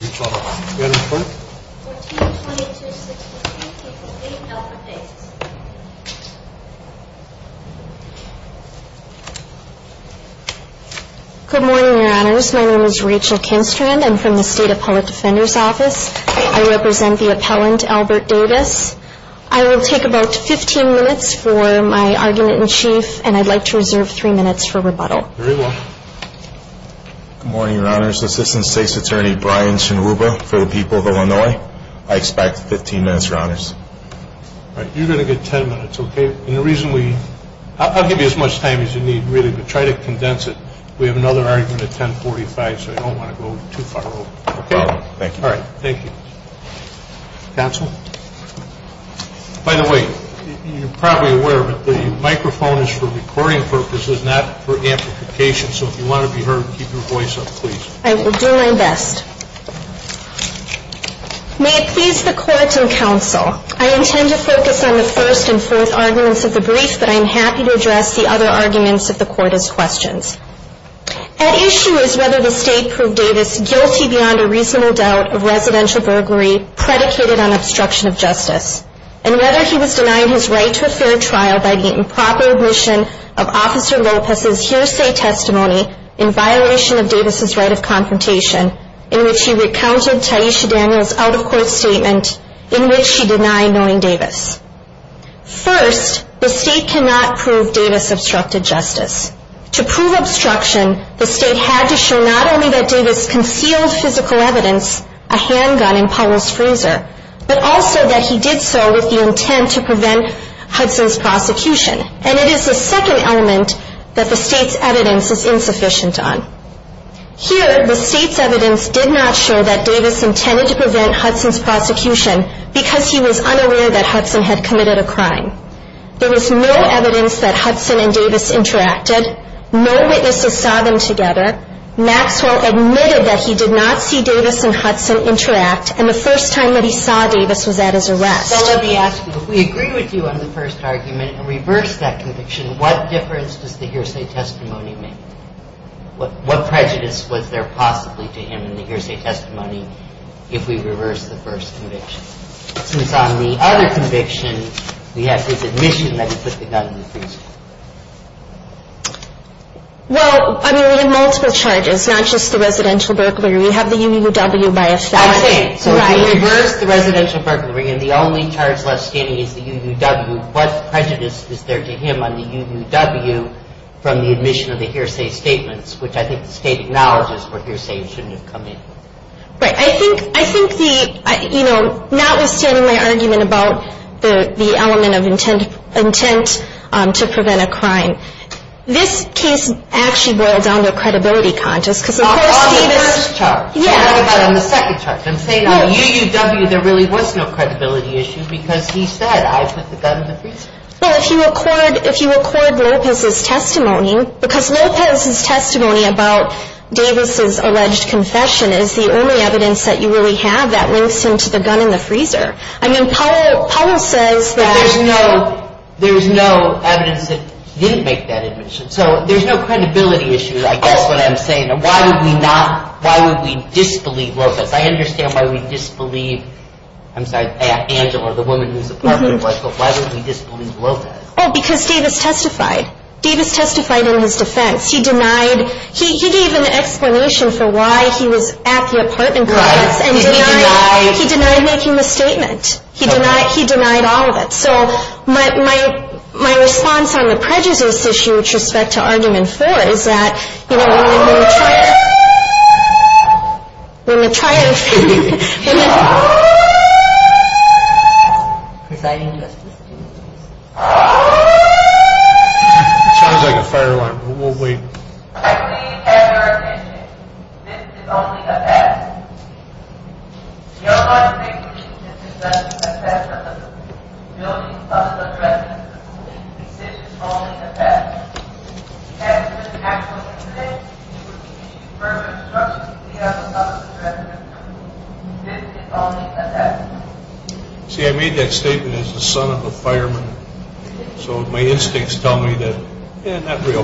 Good morning, your honors. My name is Rachel Kinstrand. I'm from the State Appellate Defender's Office. I represent the appellant, Albert Davis. I will take about 15 minutes for my argument in chief, and I'd like to reserve 3 minutes for rebuttal. Good morning, your honors. Assistant State's Attorney Brian Shinruba for the people of Illinois. I expect 15 minutes, your honors. All right, you're going to get 10 minutes, okay? I'll give you as much time as you need, really, but try to condense it. We have another argument at 1045, so I don't want to go too far over. No problem, thank you. All right, thank you. Counsel? By the way, you're probably aware, but the microphone is for recording purposes, not for amplification, so if you want to be heard, keep your voice up, please. I will do my best. May it please the court and counsel, I intend to focus on the first and fourth arguments of the brief, but I am happy to address the other arguments of the court as questions. At issue is whether the State proved Davis guilty beyond a reasonable doubt of residential burglary predicated on obstruction of justice, and whether he was denying his right to a proper admission of Officer Lopez's hearsay testimony in violation of Davis's right of confrontation, in which he recounted Taisha Daniels' out-of-court statement in which he denied knowing Davis. First, the State cannot prove Davis obstructed justice. To prove obstruction, the State had to show not only that Davis concealed physical evidence, a handgun in Powell's freezer, but also that he did so with the intent to prevent Hudson's prosecution. And it is the second element that the State's evidence is insufficient on. Here, the State's evidence did not show that Davis intended to prevent Hudson's prosecution because he was unaware that Hudson had committed a crime. There was no evidence that Hudson and Davis interacted, no witnesses saw them together, Maxwell admitted that he did not see Davis and Hudson interact, and the first time that he saw Davis was at his arrest. Well, let me ask you, if we agree with you on the first argument and reverse that conviction, what difference does the hearsay testimony make? What prejudice was there possibly to him in the hearsay testimony if we reverse the first conviction? Since on the other conviction, we have his admission that he put the gun in the freezer. Well, I mean, we have multiple charges, not just the residential burglary. We have the UUW by offense. So if we reverse the residential burglary and the only charge left standing is the UUW, what prejudice is there to him on the UUW from the admission of the hearsay statements, which I think the State acknowledges were hearsay and shouldn't have come in. Right. I think the, you know, notwithstanding my argument about the element of intent to prevent a crime, this case actually boiled down to a credibility contest because of course Davis On the first charge. Yeah. What about on the second charge? I'm saying on the UUW, there really was no credibility issue because he said, I put the gun in the freezer. Well, if you record, if you record Lopez's testimony, because Lopez's testimony about Davis's alleged confession is the only evidence that you really have that links him to the gun in the freezer. I mean, Powell says that But there's no, there's no evidence that didn't make that admission. So there's no credibility issue, I guess what I'm saying. Why would we not, why would we disbelieve Lopez? I understand why we disbelieve, I'm sorry, Angela, the woman whose apartment it was, but why would we disbelieve Lopez? Oh, because Davis testified. Davis testified in his defense. He denied, he gave an explanation for why he was at the apartment complex and denied, he denied making the statement. He denied, he denied all of it. So my, my, my point before is that, you know, we're in a trial, we're in a trial, we're in a presiding justice. It sounds like a fire alarm, but we'll wait. I believe, at your attention, this is only the best. Your logic is that this is only the best of the best. This is only the best. If this is actually the best, you would be further obstructing the other possibilities. This is only the best. See, I made that statement as the son of a fireman. So my instincts tell me that that's not real. We're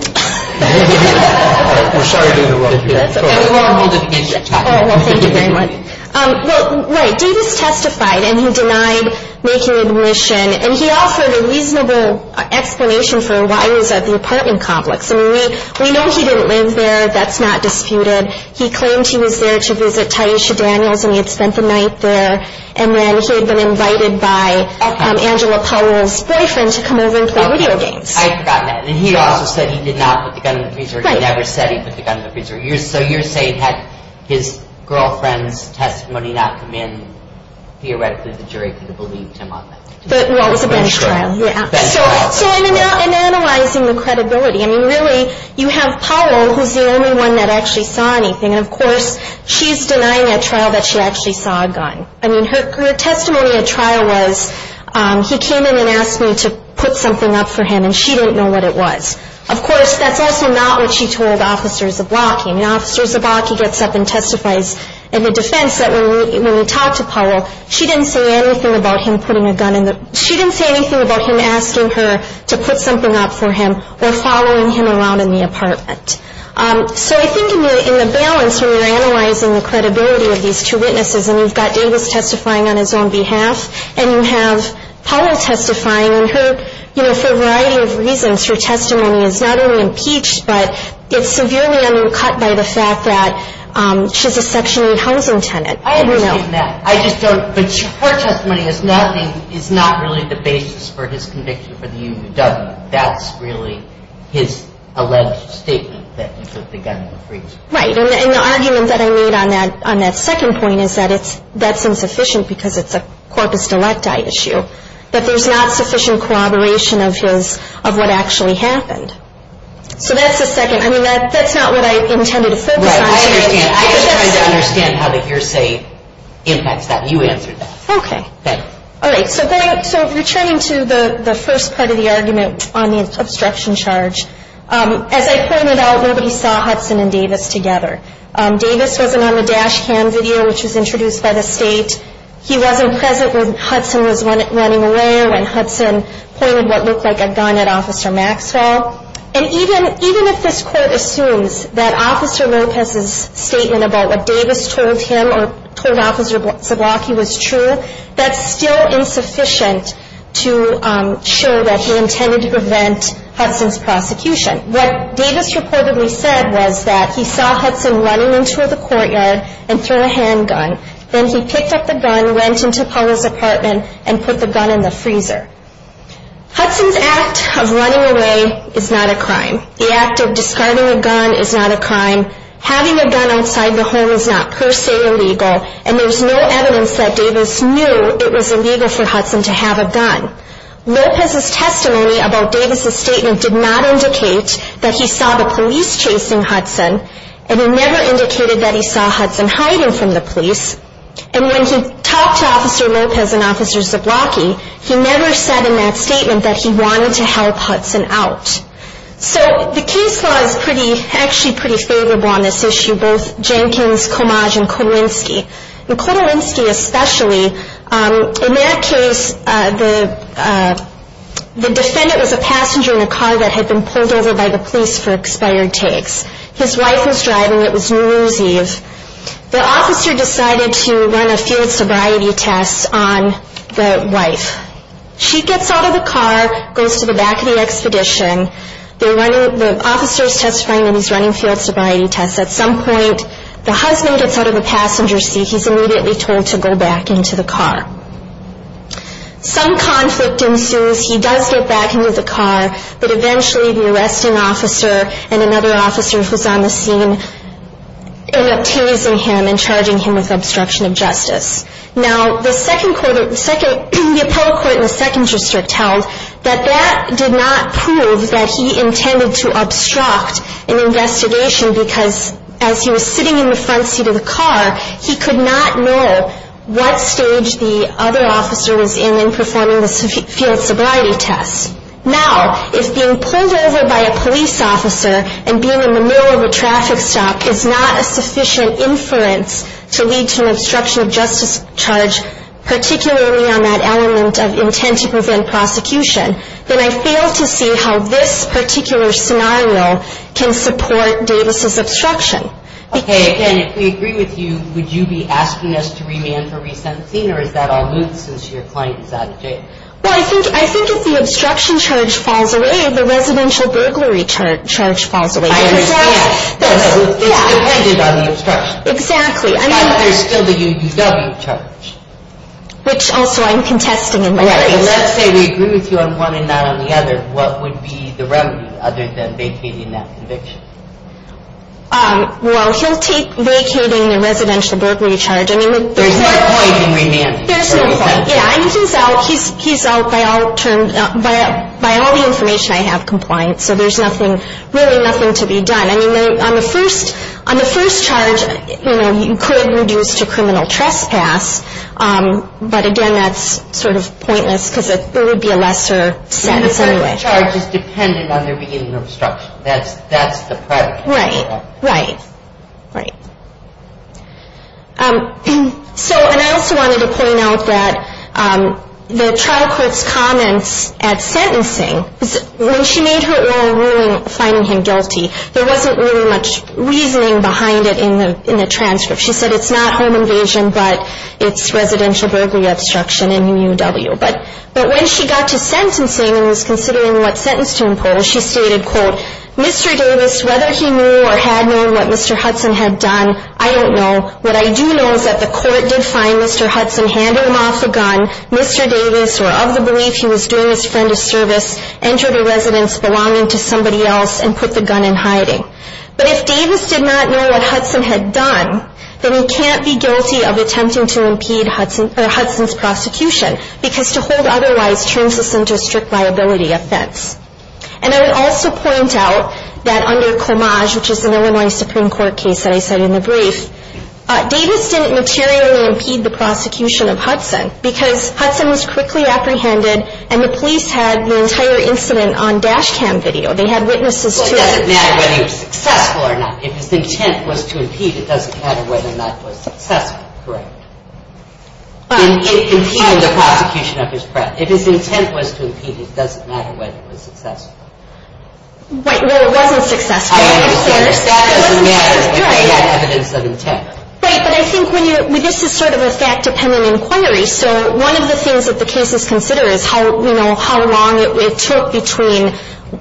sorry to interrupt you. Well, thank you very much. Well, right, Davis testified and he denied making admission and he offered a reasonable explanation for why he was at the apartment complex. I mean, we, we know he didn't live there. That's not disputed. He claimed he was there to visit Tyesha Daniels and he had spent the night there. And then he had been invited by Angela Powell's boyfriend to come over and play video games. I forgot that. And he also said he did not put the gun in the freezer. He never said he put the gun in the freezer. So you're saying had his girlfriend's testimony not come in, theoretically the jury could have believed him on that? Well, it was a bench trial. So in analyzing the credibility, I mean, really, you have Powell, who's the only one that actually saw anything. And, of course, she's denying at trial that she actually saw a gun. I mean, her testimony at trial was he came in and asked me to put something up for him and she didn't know what it was. Of course, that's also not what she told Officers of Lockheed. I mean, Officers of Lockheed gets up and testifies in the defense that when we talked to Powell, she didn't say anything about him putting a gun in the, she didn't say anything about him asking her to put something up for him or following him around in the apartment. So I think in the balance when you're analyzing the credibility of these two witnesses, and you've got Davis testifying, and you've got Powell testifying on his own behalf, and you have Powell testifying, and her, you know, for a variety of reasons, her testimony is not only impeached, but it's severely undercut by the fact that she's a Section 8 housing tenant. I understand that. I just don't, but her testimony is nothing, is not really the basis for his conviction for the UUW. That's really his alleged statement that he put the gun in the fridge. Right. And the argument that I made on that second point is that it's, that's insufficient because it's not the case. Because it's a corpus delicti issue. That there's not sufficient corroboration of his, of what actually happened. So that's the second. I mean, that's not what I intended to focus on. Right. I understand. I was trying to understand how the hearsay impacts that. You answered that. Okay. All right. So going, so returning to the first part of the argument on the obstruction charge, as I pointed out, nobody saw Hudson and Davis together. Davis wasn't on the dash cam video, which was introduced by the state. He wasn't present when Hudson was running away or when Hudson pointed what looked like a gun at Officer Maxwell. And even, even if this court assumes that Officer Lopez's statement about what Davis told him or told Officer Zablocki was true, that's still insufficient to show that he intended to prevent Hudson's prosecution. What Davis reportedly said was that he saw Hudson running into the Then he picked up the handgun and pointed it at Officer Maxwell. put the gun in the freezer. Hudson's act of running away is not a crime. The act of discarding a gun is not a crime. Having a gun outside the home is not per se illegal, and there's no evidence that Davis knew it was illegal for Hudson to have a gun. Lopez's testimony about Davis's statement did not indicate that he saw the police chasing Hudson, and it never indicated that he saw Hudson And when he was running away, he pointed the gun at Officer Maxwell. When he talked to Officer Lopez and Officer Zablocki, he never said in that statement that he wanted to help Hudson out. So the case law is pretty, actually pretty favorable on this issue, both Jenkins, Comage, and Kotelinski. And Kotelinski especially, in that case, the defendant was a passenger in a car that had been pulled over by the police for expired takes. His wife was driving, it was New Year's Eve. station. They were running field sobriety tests on the wife. She gets out of the car, goes to the back of the expedition. The officer's testifying that he's running field sobriety tests. At some point, the husband gets out of the passenger seat. He's immediately told to go back into the car. Some conflict ensues. He does get back into the car, but eventually the arresting officer and another officer who's on the scene end up teasing him and charging him with obstruction of justice. Now, the second quarter, the appellate court in the second district held that that did not prove that he intended to obstruct an investigation because as he was sitting in the front seat of the car, he could not know what stage the other officer was in in performing the field sobriety test. Now, if being pulled over by a police officer and being in the middle of a traffic stop is not a sufficient inference to lead to an obstruction of justice charge, particularly on that element of intent to prevent prosecution, then I fail to see how this particular scenario can support Davis' obstruction. Okay, again, if we agree with you, would you be asking us to remand for resentencing or is that all moot since your client is out of jail? Well, I think if the obstruction charge falls away, the residential burglary charge falls away. I understand. It's dependent on the obstruction. Exactly. But there's still the UDW charge. Which also I'm contesting in my case. Let's say we agree with you on one and not on the other. What would be the remedy other than vacating that conviction? Well, he'll take vacating the residential burglary charge. There's no point in remanding. He's out by all the information I have compliant, so there's really nothing to be done. On the first charge, you could reduce to criminal trespass, but again, that's sort of pointless because it would be a lesser sentence anyway. The first charge is dependent on their beginning of obstruction. That's the predicate. Right, right. And I also wanted to point out that the trial court's comments at sentencing, when she made her oral ruling, she said, there wasn't really much reasoning behind it in the transcript. She said it's not home invasion, but it's residential burglary obstruction in UDW. But when she got to sentencing and was considering what sentence to impose, she stated, Mr. Davis, whether he knew or had known what Mr. Hudson had done, I don't know. What I do know is that the court did find Mr. Hudson, handled him off a gun, Mr. Davis, or of the belief he was doing his friend a service, injured a resident's belonging to somebody else, and put the gun in hiding. But if Davis did not know what Hudson had done, then he can't be guilty of attempting to impede Hudson's prosecution, because to hold otherwise turns this into a strict liability offense. And I would also point out that under Clemage, which is an Illinois Supreme Court case that I cited in the brief, Davis didn't materially impede the prosecution of Hudson, because Hudson was quickly apprehended, and the police had the opportunity to investigate the entire incident on dash cam video. They had witnesses to the attack. Well, it doesn't matter whether he was successful or not. If his intent was to impede, it doesn't matter whether or not it was successful, correct? In impeding the prosecution of his friend. If his intent was to impede, it doesn't matter whether it was successful. Right, well, it wasn't successful. Right, but I think this is sort of a fact-dependent inquiry, so one of the things that the cases consider is how long it took between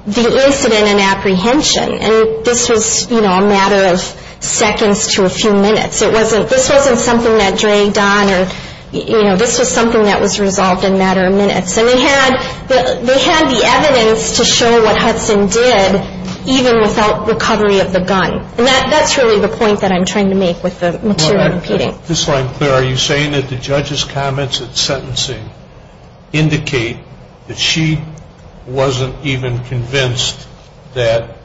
the incident and apprehension. And this was a matter of seconds to a few minutes. This wasn't something that dragged on, or this was something that was resolved in a matter of minutes. And they had the evidence to show what Hudson did, even without And they had evidence to show what Hudson did, even without a gun. And that's really the point I'm trying to make with the material That's really the point I'm trying to make with the material impeding. impeding. impeding. Are you saying that the judge's comments of sentencing indicate that she wasn't even convinced that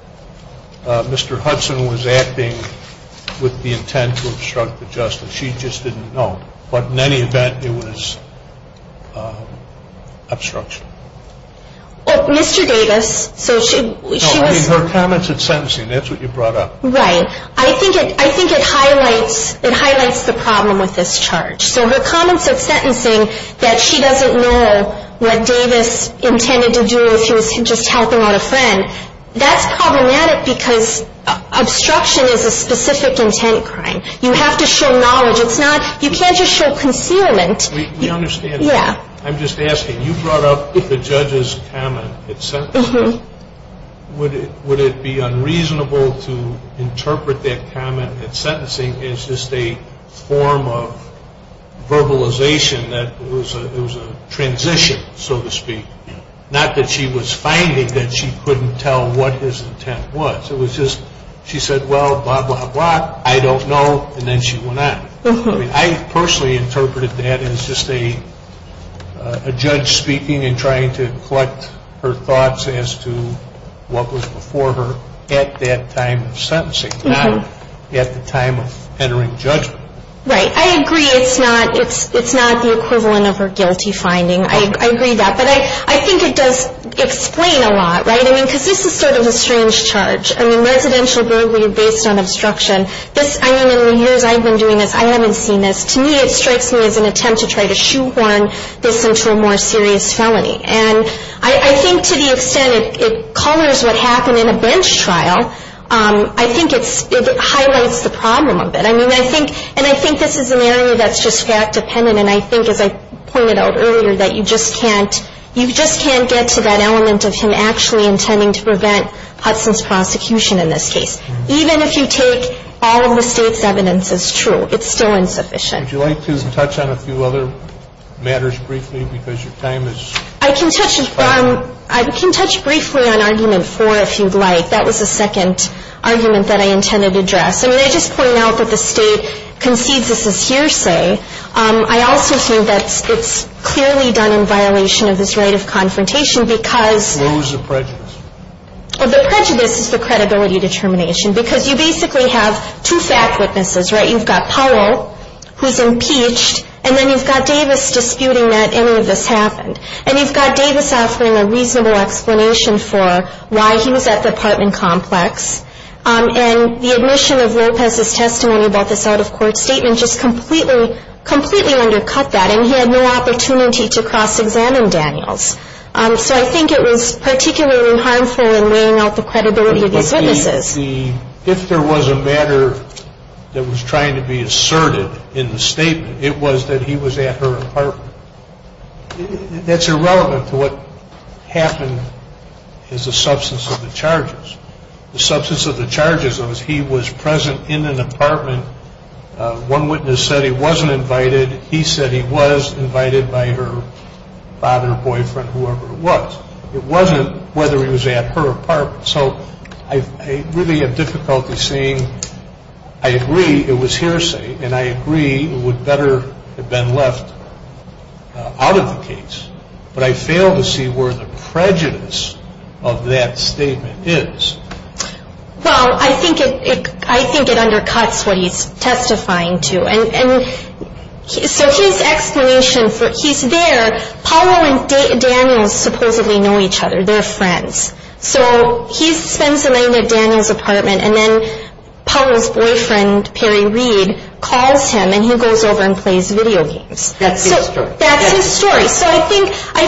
Mr. Hudson was acting with the intent to obstruct the justice. She just didn't know, but in any event it was obstruction. She just didn't know, but in any event it was obstruction. Mr. Davis, so she was No, I mean her comments of sentencing, that's what you brought up. Right, I think it highlights the problem with this charge. Right, I think it highlights the problem with this charge. So her comments of sentencing, that she doesn't know what Davis intended to do if he was just helping out a friend, that's problematic because obstruction is a specific intent crime. You have to show knowledge. You can't just show concealment. We understand that. I'm just asking, you brought up the judge's comment of sentencing. Would it be unreasonable to interpret that comment of sentencing as just a form of verbalization as just a form of verbalization that was a transition, so to speak. Not that she was finding that she couldn't tell what his intent was. It was just, she said, well, blah, blah, blah, I don't know, and then she went on. I personally interpreted that as just a judge speaking and trying to collect her thoughts as to what was before her and trying to collect her thoughts as to what was before her at that time of sentencing, not at the time of entering judgment. at that time of sentencing, not at the time of entering judgment. Right, I agree, it's not the equivalent of her guilty finding. I agree with that, but I think it does explain a lot. Right, I mean, because this is sort of a strange charge. I mean, residential burglary based on obstruction. I mean, in the years I've been doing this, I haven't seen this. To me, it strikes me as an attempt to try to shoehorn this into a more serious felony. And I think to the extent it colors what happened in a bench trial, And I think to the extent it colors what happened in a bench trial, I think it highlights the problem of it. And I think this is an area that's just fact-dependent, and I think, as I pointed out earlier, that you just can't get to that element of him actually intending to prevent Hudson's prosecution in this case. Even if you take all of the State's evidence as true, it's still insufficient. Would you like to touch on a few other matters briefly, because your time is fast? I can touch briefly on argument four if you'd like. That was the second argument that I intended to address. I mean, I just pointed out that the State concedes this as hearsay. I also think that it's clearly done in violation of this right of confrontation, because... Who's the prejudice? The prejudice is the credibility determination, because you basically have two fact witnesses, right? You've got Powell, who's impeached, and then you've got Davis disputing that any of this happened. And you've got Davis offering a reasonable explanation for why he was at the apartment complex. And the admission of Lopez's testimony about this out-of-court statement just completely, completely undercut that, and he had no opportunity to cross-examine Daniels. So I think it was particularly harmful in weighing out the credibility of these witnesses. If there was a matter that was trying to be asserted in the statement, it was that he was at her apartment. That's irrelevant to what happened as a substance of the charges. The substance of the charges was he was present in an apartment. One witness said he wasn't invited. He said he was invited by her father, boyfriend, whoever it was. It wasn't whether he was at her apartment. So I really have difficulty seeing. I agree it was hearsay, and I agree it would better have been left out of the case. But I fail to see where the prejudice of that statement is. Well, I think it undercuts what he's testifying to. And so his explanation, he's there. Paolo and Daniels supposedly know each other. They're friends. So he spends the night at Daniels' apartment, and then Paolo's boyfriend, Perry Reed, calls him, and he goes over and plays video games. That's his story. That's his story. So I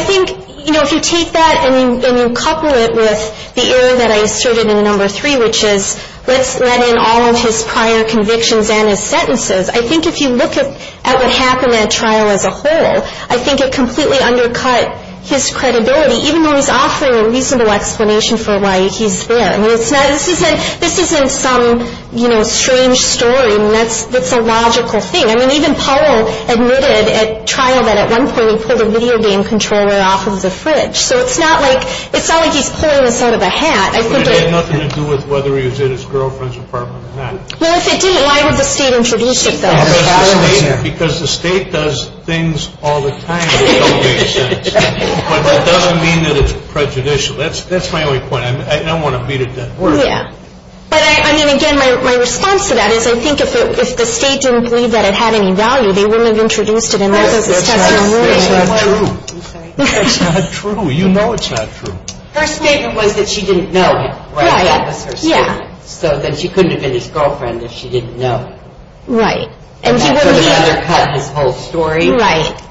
think, you know, if you take that and you couple it with the error that I asserted in the number three, which is let's let in all of his prior convictions and his sentences, I think if you look at what happened at trial as a whole, I think it completely undercut his credibility, even though he's offering a reasonable explanation for why he's there. I mean, this isn't some, you know, strange story. I mean, that's a logical thing. I mean, even Paolo admitted at trial that at one point he pulled a video game controller off of the fridge. So it's not like he's pulling this out of a hat. But it had nothing to do with whether he was at his girlfriend's apartment or not. Well, if it didn't, why would the state introduce it then? Because the state does things all the time that don't make sense. But that doesn't mean that it's prejudicial. That's my only point. I don't want to beat it to that. Yeah. But, I mean, again, my response to that is I think if the state didn't believe that it had any value, they wouldn't have introduced it. That's not true. That's not true. You know it's not true. Her statement was that she didn't know him. Right. That was her statement. Yeah. So then she couldn't have been his girlfriend if she didn't know. Right. And that would undercut his whole story. Right.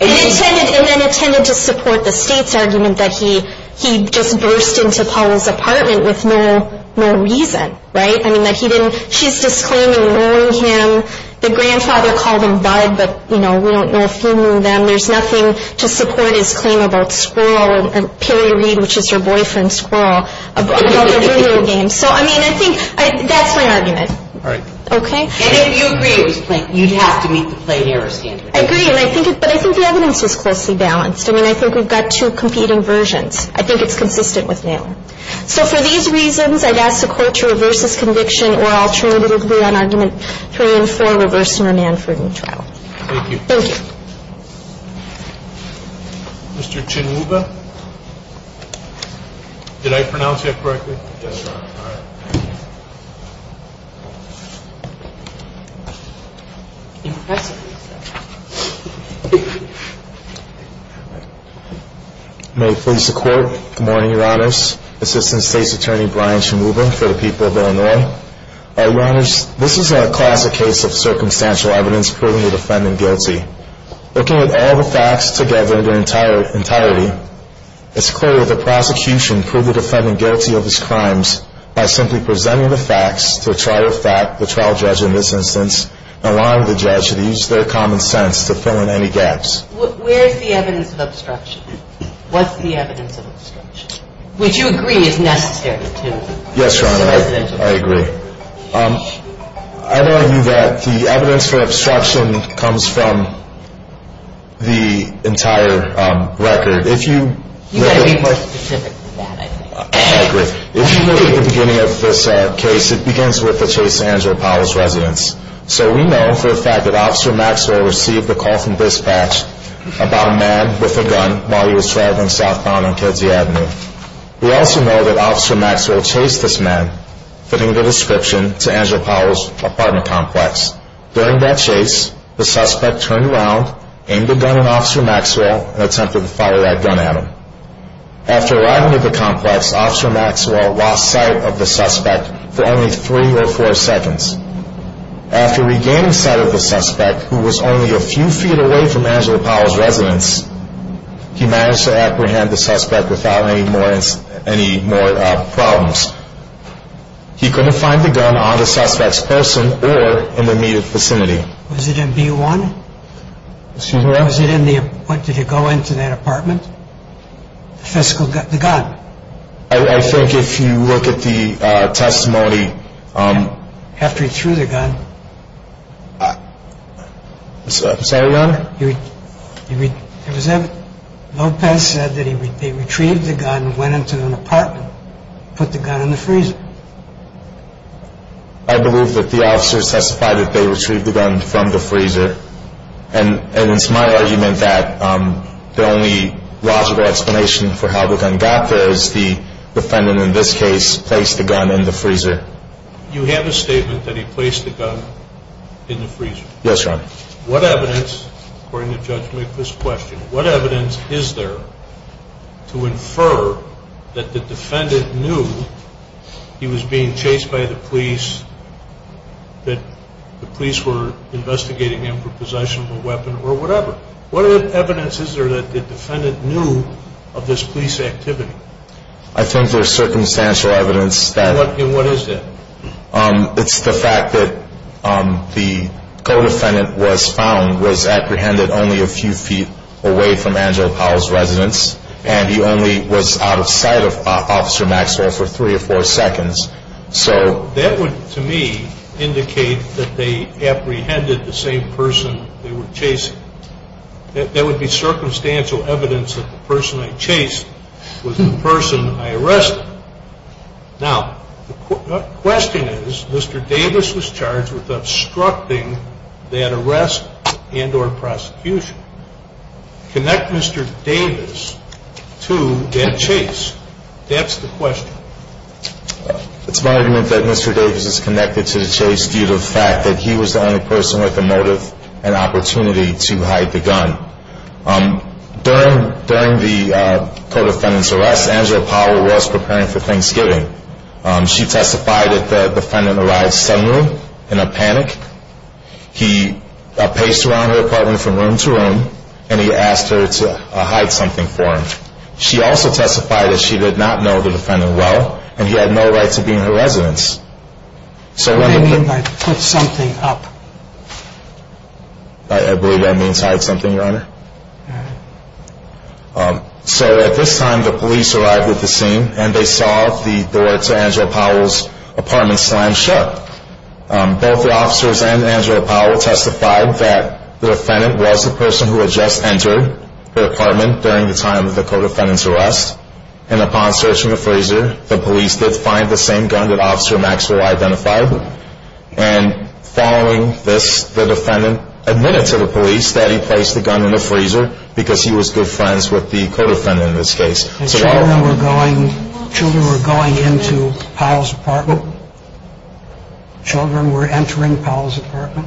And it tended to support the state's argument that he just burst into Paolo's apartment with no reason. Right. I mean, that he didn't, she's disclaiming knowing him. The grandfather called him Bud, but, you know, we don't know if he knew them. There's nothing to support his claim about Squirrel and Perry Reed, which is her boyfriend Squirrel, about the video game. So, I mean, I think that's my argument. All right. Okay. And if you agree it was played, you'd have to meet the played error standard. I agree. But I think the evidence is closely balanced. I mean, I think we've got two competing versions. I think it's consistent with Naylor. So, for these reasons, I'd ask the court to reverse this conviction or alternatively on Argument 3 and 4, reverse and remand for a new trial. Thank you. Thank you. Mr. Chinuba? Did I pronounce that correctly? Yes, Your Honor. All right. Impressive. May it please the Court. Good morning, Your Honors. Assistant State's Attorney Brian Chinuba for the people of Illinois. All right, Your Honors. This is a classic case of circumstantial evidence proving the defendant guilty. Looking at all the facts together in their entirety, it's clear that the prosecution proved the defendant guilty of his crimes by simply presenting the facts to a trial judge in this instance and allowing the judge to use their common sense to fill in any gaps. Where is the evidence of obstruction? What's the evidence of obstruction? Would you agree it's necessary to present evidence? Yes, Your Honor. I agree. I'd argue that the evidence for obstruction comes from the entire record. You've got to be more specific than that, I think. I agree. If you look at the beginning of this case, it begins with the chase to Angela Powell's residence. So we know for a fact that Officer Maxwell received a call from dispatch about a man with a gun while he was traveling southbound on Kedzie Avenue. We also know that Officer Maxwell chased this man, fitting the description to Angela Powell's apartment complex. During that chase, the suspect turned around, aimed a gun at Officer Maxwell, and attempted to fire that gun at him. After arriving at the complex, Officer Maxwell lost sight of the suspect for only three or four seconds. After regaining sight of the suspect, who was only a few feet away from Angela Powell's residence, he managed to apprehend the suspect without any more problems. He couldn't find the gun on the suspect's person or in the immediate vicinity. Excuse me, Your Honor? Was it in the apartment? Did he go into that apartment? The gun? I think if you look at the testimony... After he threw the gun... Sorry, Your Honor? Lopez said that he retrieved the gun, went into an apartment, put the gun in the freezer. I believe that the officers testified that they retrieved the gun from the freezer. And it's my argument that the only logical explanation for how the gun got there is the defendant, in this case, placed the gun in the freezer. You have a statement that he placed the gun in the freezer. Yes, Your Honor. What evidence, according to Judge McCliskey's question, what evidence is there to infer that the defendant knew he was being chased by the police, that the police were investigating him for possession of a weapon or whatever? What evidence is there that the defendant knew of this police activity? I think there's circumstantial evidence that... And what is that? It's the fact that the co-defendant was found, was apprehended only a few feet away from Angelo Powell's residence, and he only was out of sight of Officer Maxwell for three or four seconds. So that would, to me, indicate that they apprehended the same person they were chasing. That would be circumstantial evidence that the person I chased was the person I arrested. Now, the question is, Mr. Davis was charged with obstructing that arrest and or prosecution. Connect Mr. Davis to that chase. That's the question. It's my argument that Mr. Davis is connected to the chase due to the fact that he was the only person with a motive and opportunity to hide the gun. During the co-defendant's arrest, Angelo Powell was preparing for Thanksgiving. She testified that the defendant arrived suddenly in a panic. He paced around her apartment from room to room, and he asked her to hide something for him. She also testified that she did not know the defendant well, and he had no right to be in her residence. What do you mean by put something up? I believe that means hide something, Your Honor. So at this time, the police arrived at the scene, and they saw the door to Angelo Powell's apartment slam shut. Both the officers and Angelo Powell testified that the defendant was the person who had just entered her apartment during the time of the co-defendant's arrest, and upon searching the freezer, the police did find the same gun that Officer Maxwell identified. And following this, the defendant admitted to the police that he placed the gun in the freezer because he was good friends with the co-defendant in this case. Children were going into Powell's apartment? Children were entering Powell's apartment?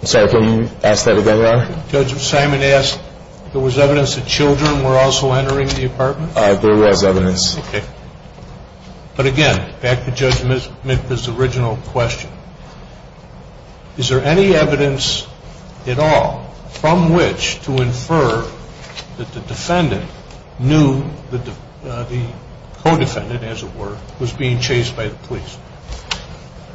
I'm sorry, can you ask that again, Your Honor? Judge Simon asked if there was evidence that children were also entering the apartment? There was evidence. Okay. But again, back to Judge Mitka's original question. Is there any evidence at all from which to infer that the defendant knew that the co-defendant, as it were, was being chased by the police?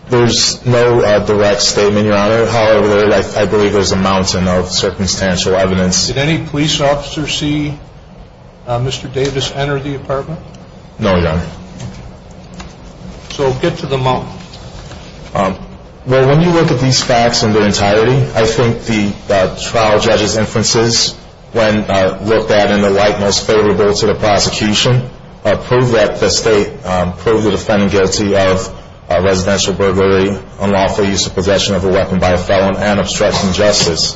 There's no direct statement, Your Honor. However, I believe there's a mountain of circumstantial evidence. Did any police officers see Mr. Davis enter the apartment? No, Your Honor. So get to the mountain. Well, when you look at these facts in their entirety, I think the trial judge's inferences, when looked at in the light most favorable to the prosecution, prove that the state proved the defendant guilty of residential burglary, unlawful use of possession of a weapon by a felon, and obstruction of justice.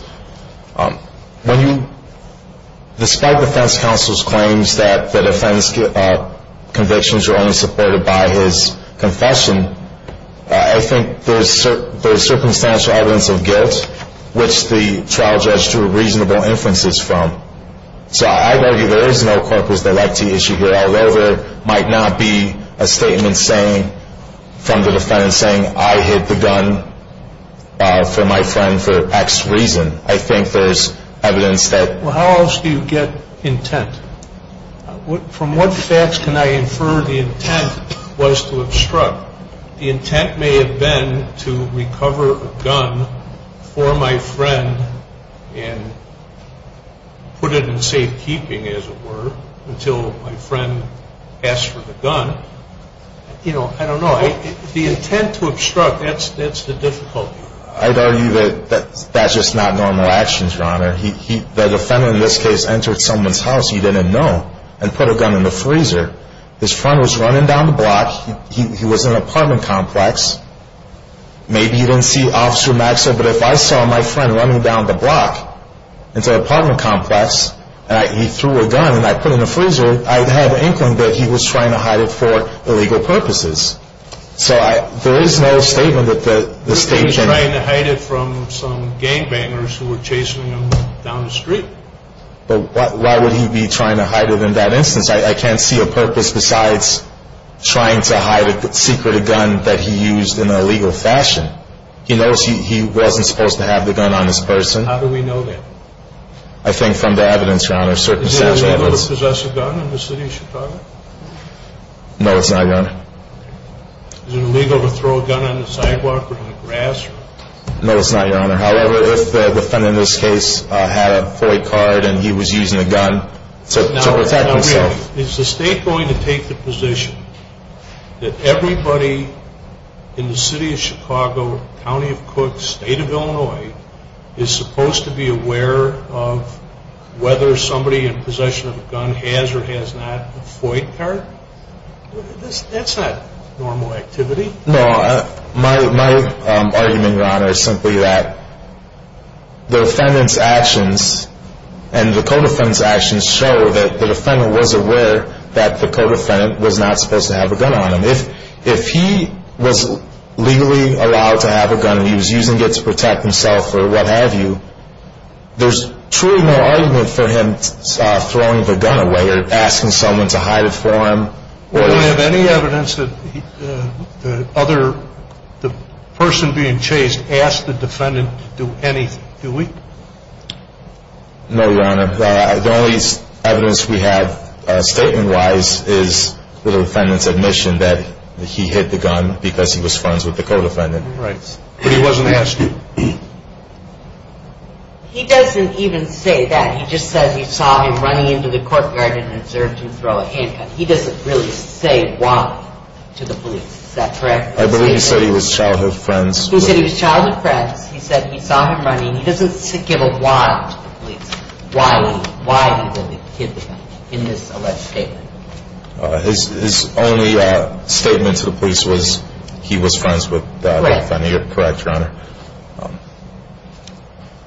Despite defense counsel's claims that the defense convictions are only supported by his confession, I think there's circumstantial evidence of guilt, which the trial judge drew reasonable inferences from. So I argue there is no corpus delicti issue here all over. It might not be a statement from the defendant saying, I hid the gun from my friend for X reason. I think there's evidence that... Well, how else do you get intent? From what facts can I infer the intent was to obstruct? The intent may have been to recover a gun for my friend and put it in safekeeping, as it were, until my friend asked for the gun. You know, I don't know. The intent to obstruct, that's the difficulty. I'd argue that that's just not normal actions, Your Honor. The defendant in this case entered someone's house he didn't know and put a gun in the freezer. His friend was running down the block. He was in an apartment complex. Maybe he didn't see Officer Maxwell, but if I saw my friend running down the block into an apartment complex and he threw a gun and I put it in the freezer, I'd have the inkling that he was trying to hide it for illegal purposes. So there is no statement that the statement... He was trying to hide it from some gangbangers who were chasing him down the street. But why would he be trying to hide it in that instance? I can't see a purpose besides trying to hide a secret gun that he used in an illegal fashion. He knows he wasn't supposed to have the gun on his person. How do we know that? I think from the evidence, Your Honor, circumstantial evidence. Is it illegal to possess a gun in the city of Chicago? No, it's not, Your Honor. Is it illegal to throw a gun on the sidewalk or in the grass? No, it's not, Your Honor. However, if the defendant in this case had a FOIA card and he was using a gun to protect himself... Now, really, is the state going to take the position that everybody in the city of Chicago, county of Cook, state of Illinois, is supposed to be aware of whether somebody in possession of a gun has or has not a FOIA card? That's not normal activity. My argument, Your Honor, is simply that the defendant's actions and the co-defendant's actions show that the defendant was aware that the co-defendant was not supposed to have a gun on him. If he was legally allowed to have a gun and he was using it to protect himself or what have you, there's truly no argument for him throwing the gun away or asking someone to hide it for him. Do we have any evidence that the person being chased asked the defendant to do anything? Do we? No, Your Honor. The only evidence we have statement-wise is the defendant's admission that he hit the gun because he was friends with the co-defendant. Right. But he wasn't asking? He doesn't even say that. He just says he saw him running into the courtyard and observed him throw a handgun. He doesn't really say why to the police. Is that correct? I believe he said he was childhood friends. He said he was childhood friends. He said he saw him running. He doesn't give a why to the police, why he hit the gun in this alleged statement. His only statement to the police was he was friends with the defendant. Correct. You're correct, Your Honor.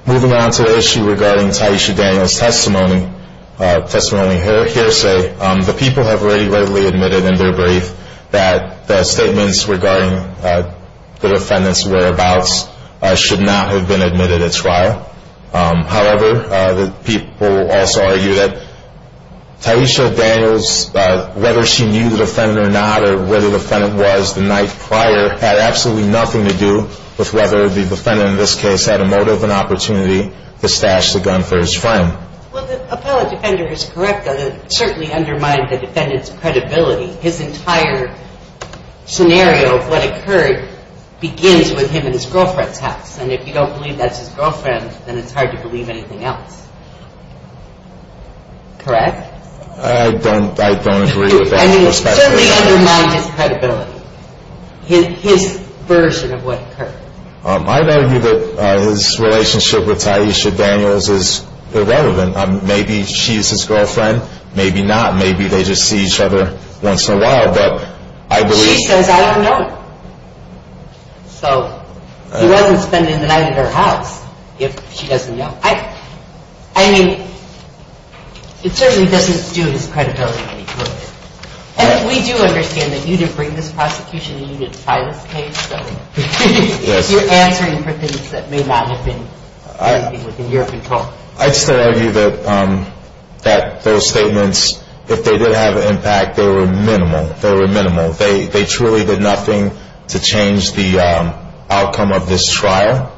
Moving on to the issue regarding Taishi Daniel's testimony, testimony hearsay, the people have readily admitted in their brief that the statements regarding the defendant's whereabouts should not have been admitted at trial. However, the people also argue that Taishi Daniel's whether she knew the defendant or not or where the defendant was the night prior had absolutely nothing to do with whether the defendant, in this case, had a motive and opportunity to stash the gun for his friend. Well, the appellate defender is correct. It certainly undermined the defendant's credibility. His entire scenario of what occurred begins with him and his girlfriend's house. And if you don't believe that's his girlfriend, then it's hard to believe anything else. Correct? I don't agree with that perspective. It certainly undermined his credibility, his version of what occurred. I'd argue that his relationship with Taishi Daniel's is irrelevant. Maybe she's his girlfriend. Maybe not. Maybe they just see each other once in a while. She says I don't know him. So he wasn't spending the night at her house if she doesn't know him. I mean, it certainly doesn't do his credibility any good. We do understand that you did bring this prosecution and you did file this case. So you're answering for things that may not have been in the European court. I'd still argue that those statements, if they did have an impact, they were minimal. They were minimal. They truly did nothing to change the outcome of this trial.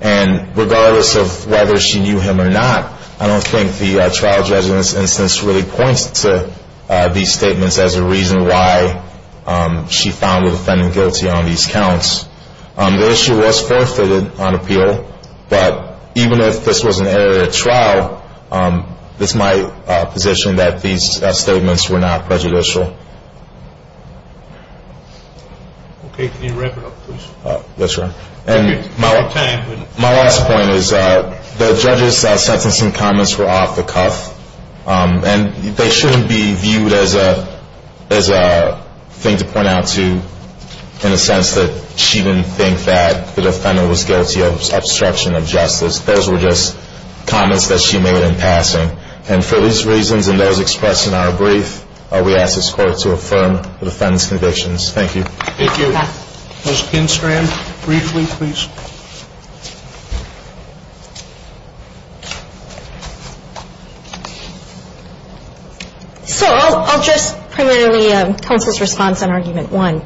And regardless of whether she knew him or not, I don't think the trial judge's instance really points to these statements as a reason why she found the defendant guilty on these counts. The issue was forfeited on appeal. But even if this was an error at trial, it's my position that these statements were not prejudicial. Okay. Can you wrap it up, please? Yes, sir. My last point is the judge's sentencing comments were off the cuff. And they shouldn't be viewed as a thing to point out to in a sense that she didn't think that the defendant was guilty of obstruction of justice. Those were just comments that she made in passing. And for these reasons and those expressed in our brief, we ask this court to affirm the defendant's convictions. Thank you. Thank you. Ms. Kinstran, briefly, please. So I'll address primarily counsel's response on Argument 1.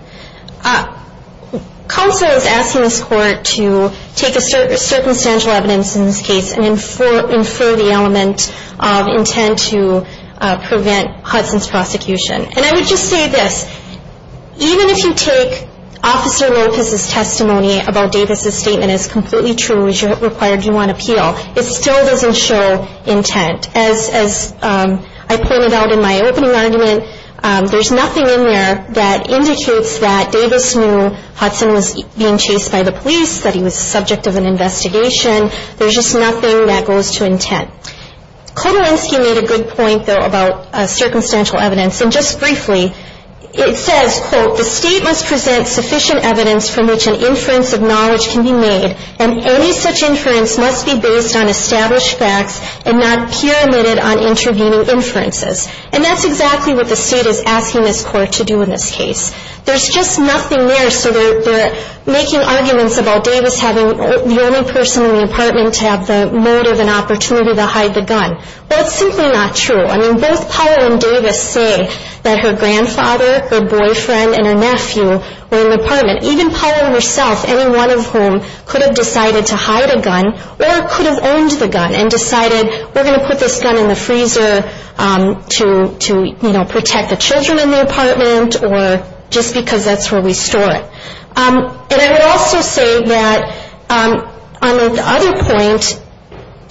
Counsel is asking this court to take a circumstantial evidence in this case and infer the element of intent to prevent Hudson's prosecution. And I would just say this. Even if you take Officer Lopez's testimony about Davis' statement as completely true as it required you on appeal, it still doesn't show intent. As I pointed out in my opening argument, there's nothing in there that indicates that Davis knew Hudson was being chased by the police, that he was the subject of an investigation. There's just nothing that goes to intent. Kodorinsky made a good point, though, about circumstantial evidence. And just briefly, it says, quote, the state must present sufficient evidence from which an inference of knowledge can be made and any such inference must be based on established facts and not pyramided on intervening inferences. And that's exactly what the state is asking this court to do in this case. There's just nothing there. So they're making arguments about Davis having the only person in the apartment to have the motive and opportunity to hide the gun. Well, it's simply not true. I mean, both Powell and Davis say that her grandfather, her boyfriend, and her nephew were in the apartment. Even Powell herself, any one of whom could have decided to hide a gun or could have owned the gun and decided we're going to put this gun in the freezer to, you know, protect the children in the apartment or just because that's where we store it. And I would also say that on the other point,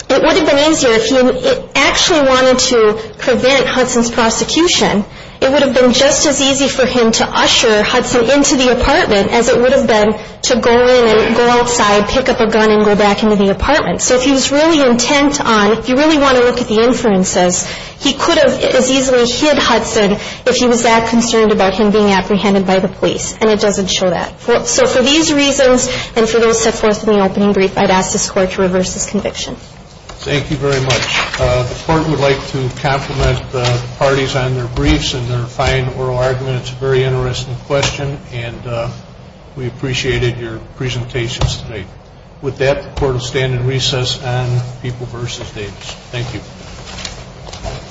it would have been easier if he actually wanted to prevent Hudson's prosecution. It would have been just as easy for him to usher Hudson into the apartment as it would have been to go in and go outside, pick up a gun, and go back into the apartment. So if he was really intent on, if you really want to look at the inferences, he could have as easily hid Hudson if he was that concerned about him being apprehended by the police. And it doesn't show that. So for these reasons and for those set forth in the opening brief, I'd ask this Court to reverse this conviction. Thank you very much. The Court would like to compliment the parties on their briefs and their fine oral argument. It's a very interesting question, and we appreciated your presentations today. With that, the Court will stand in recess on People v. Davis. Thank you.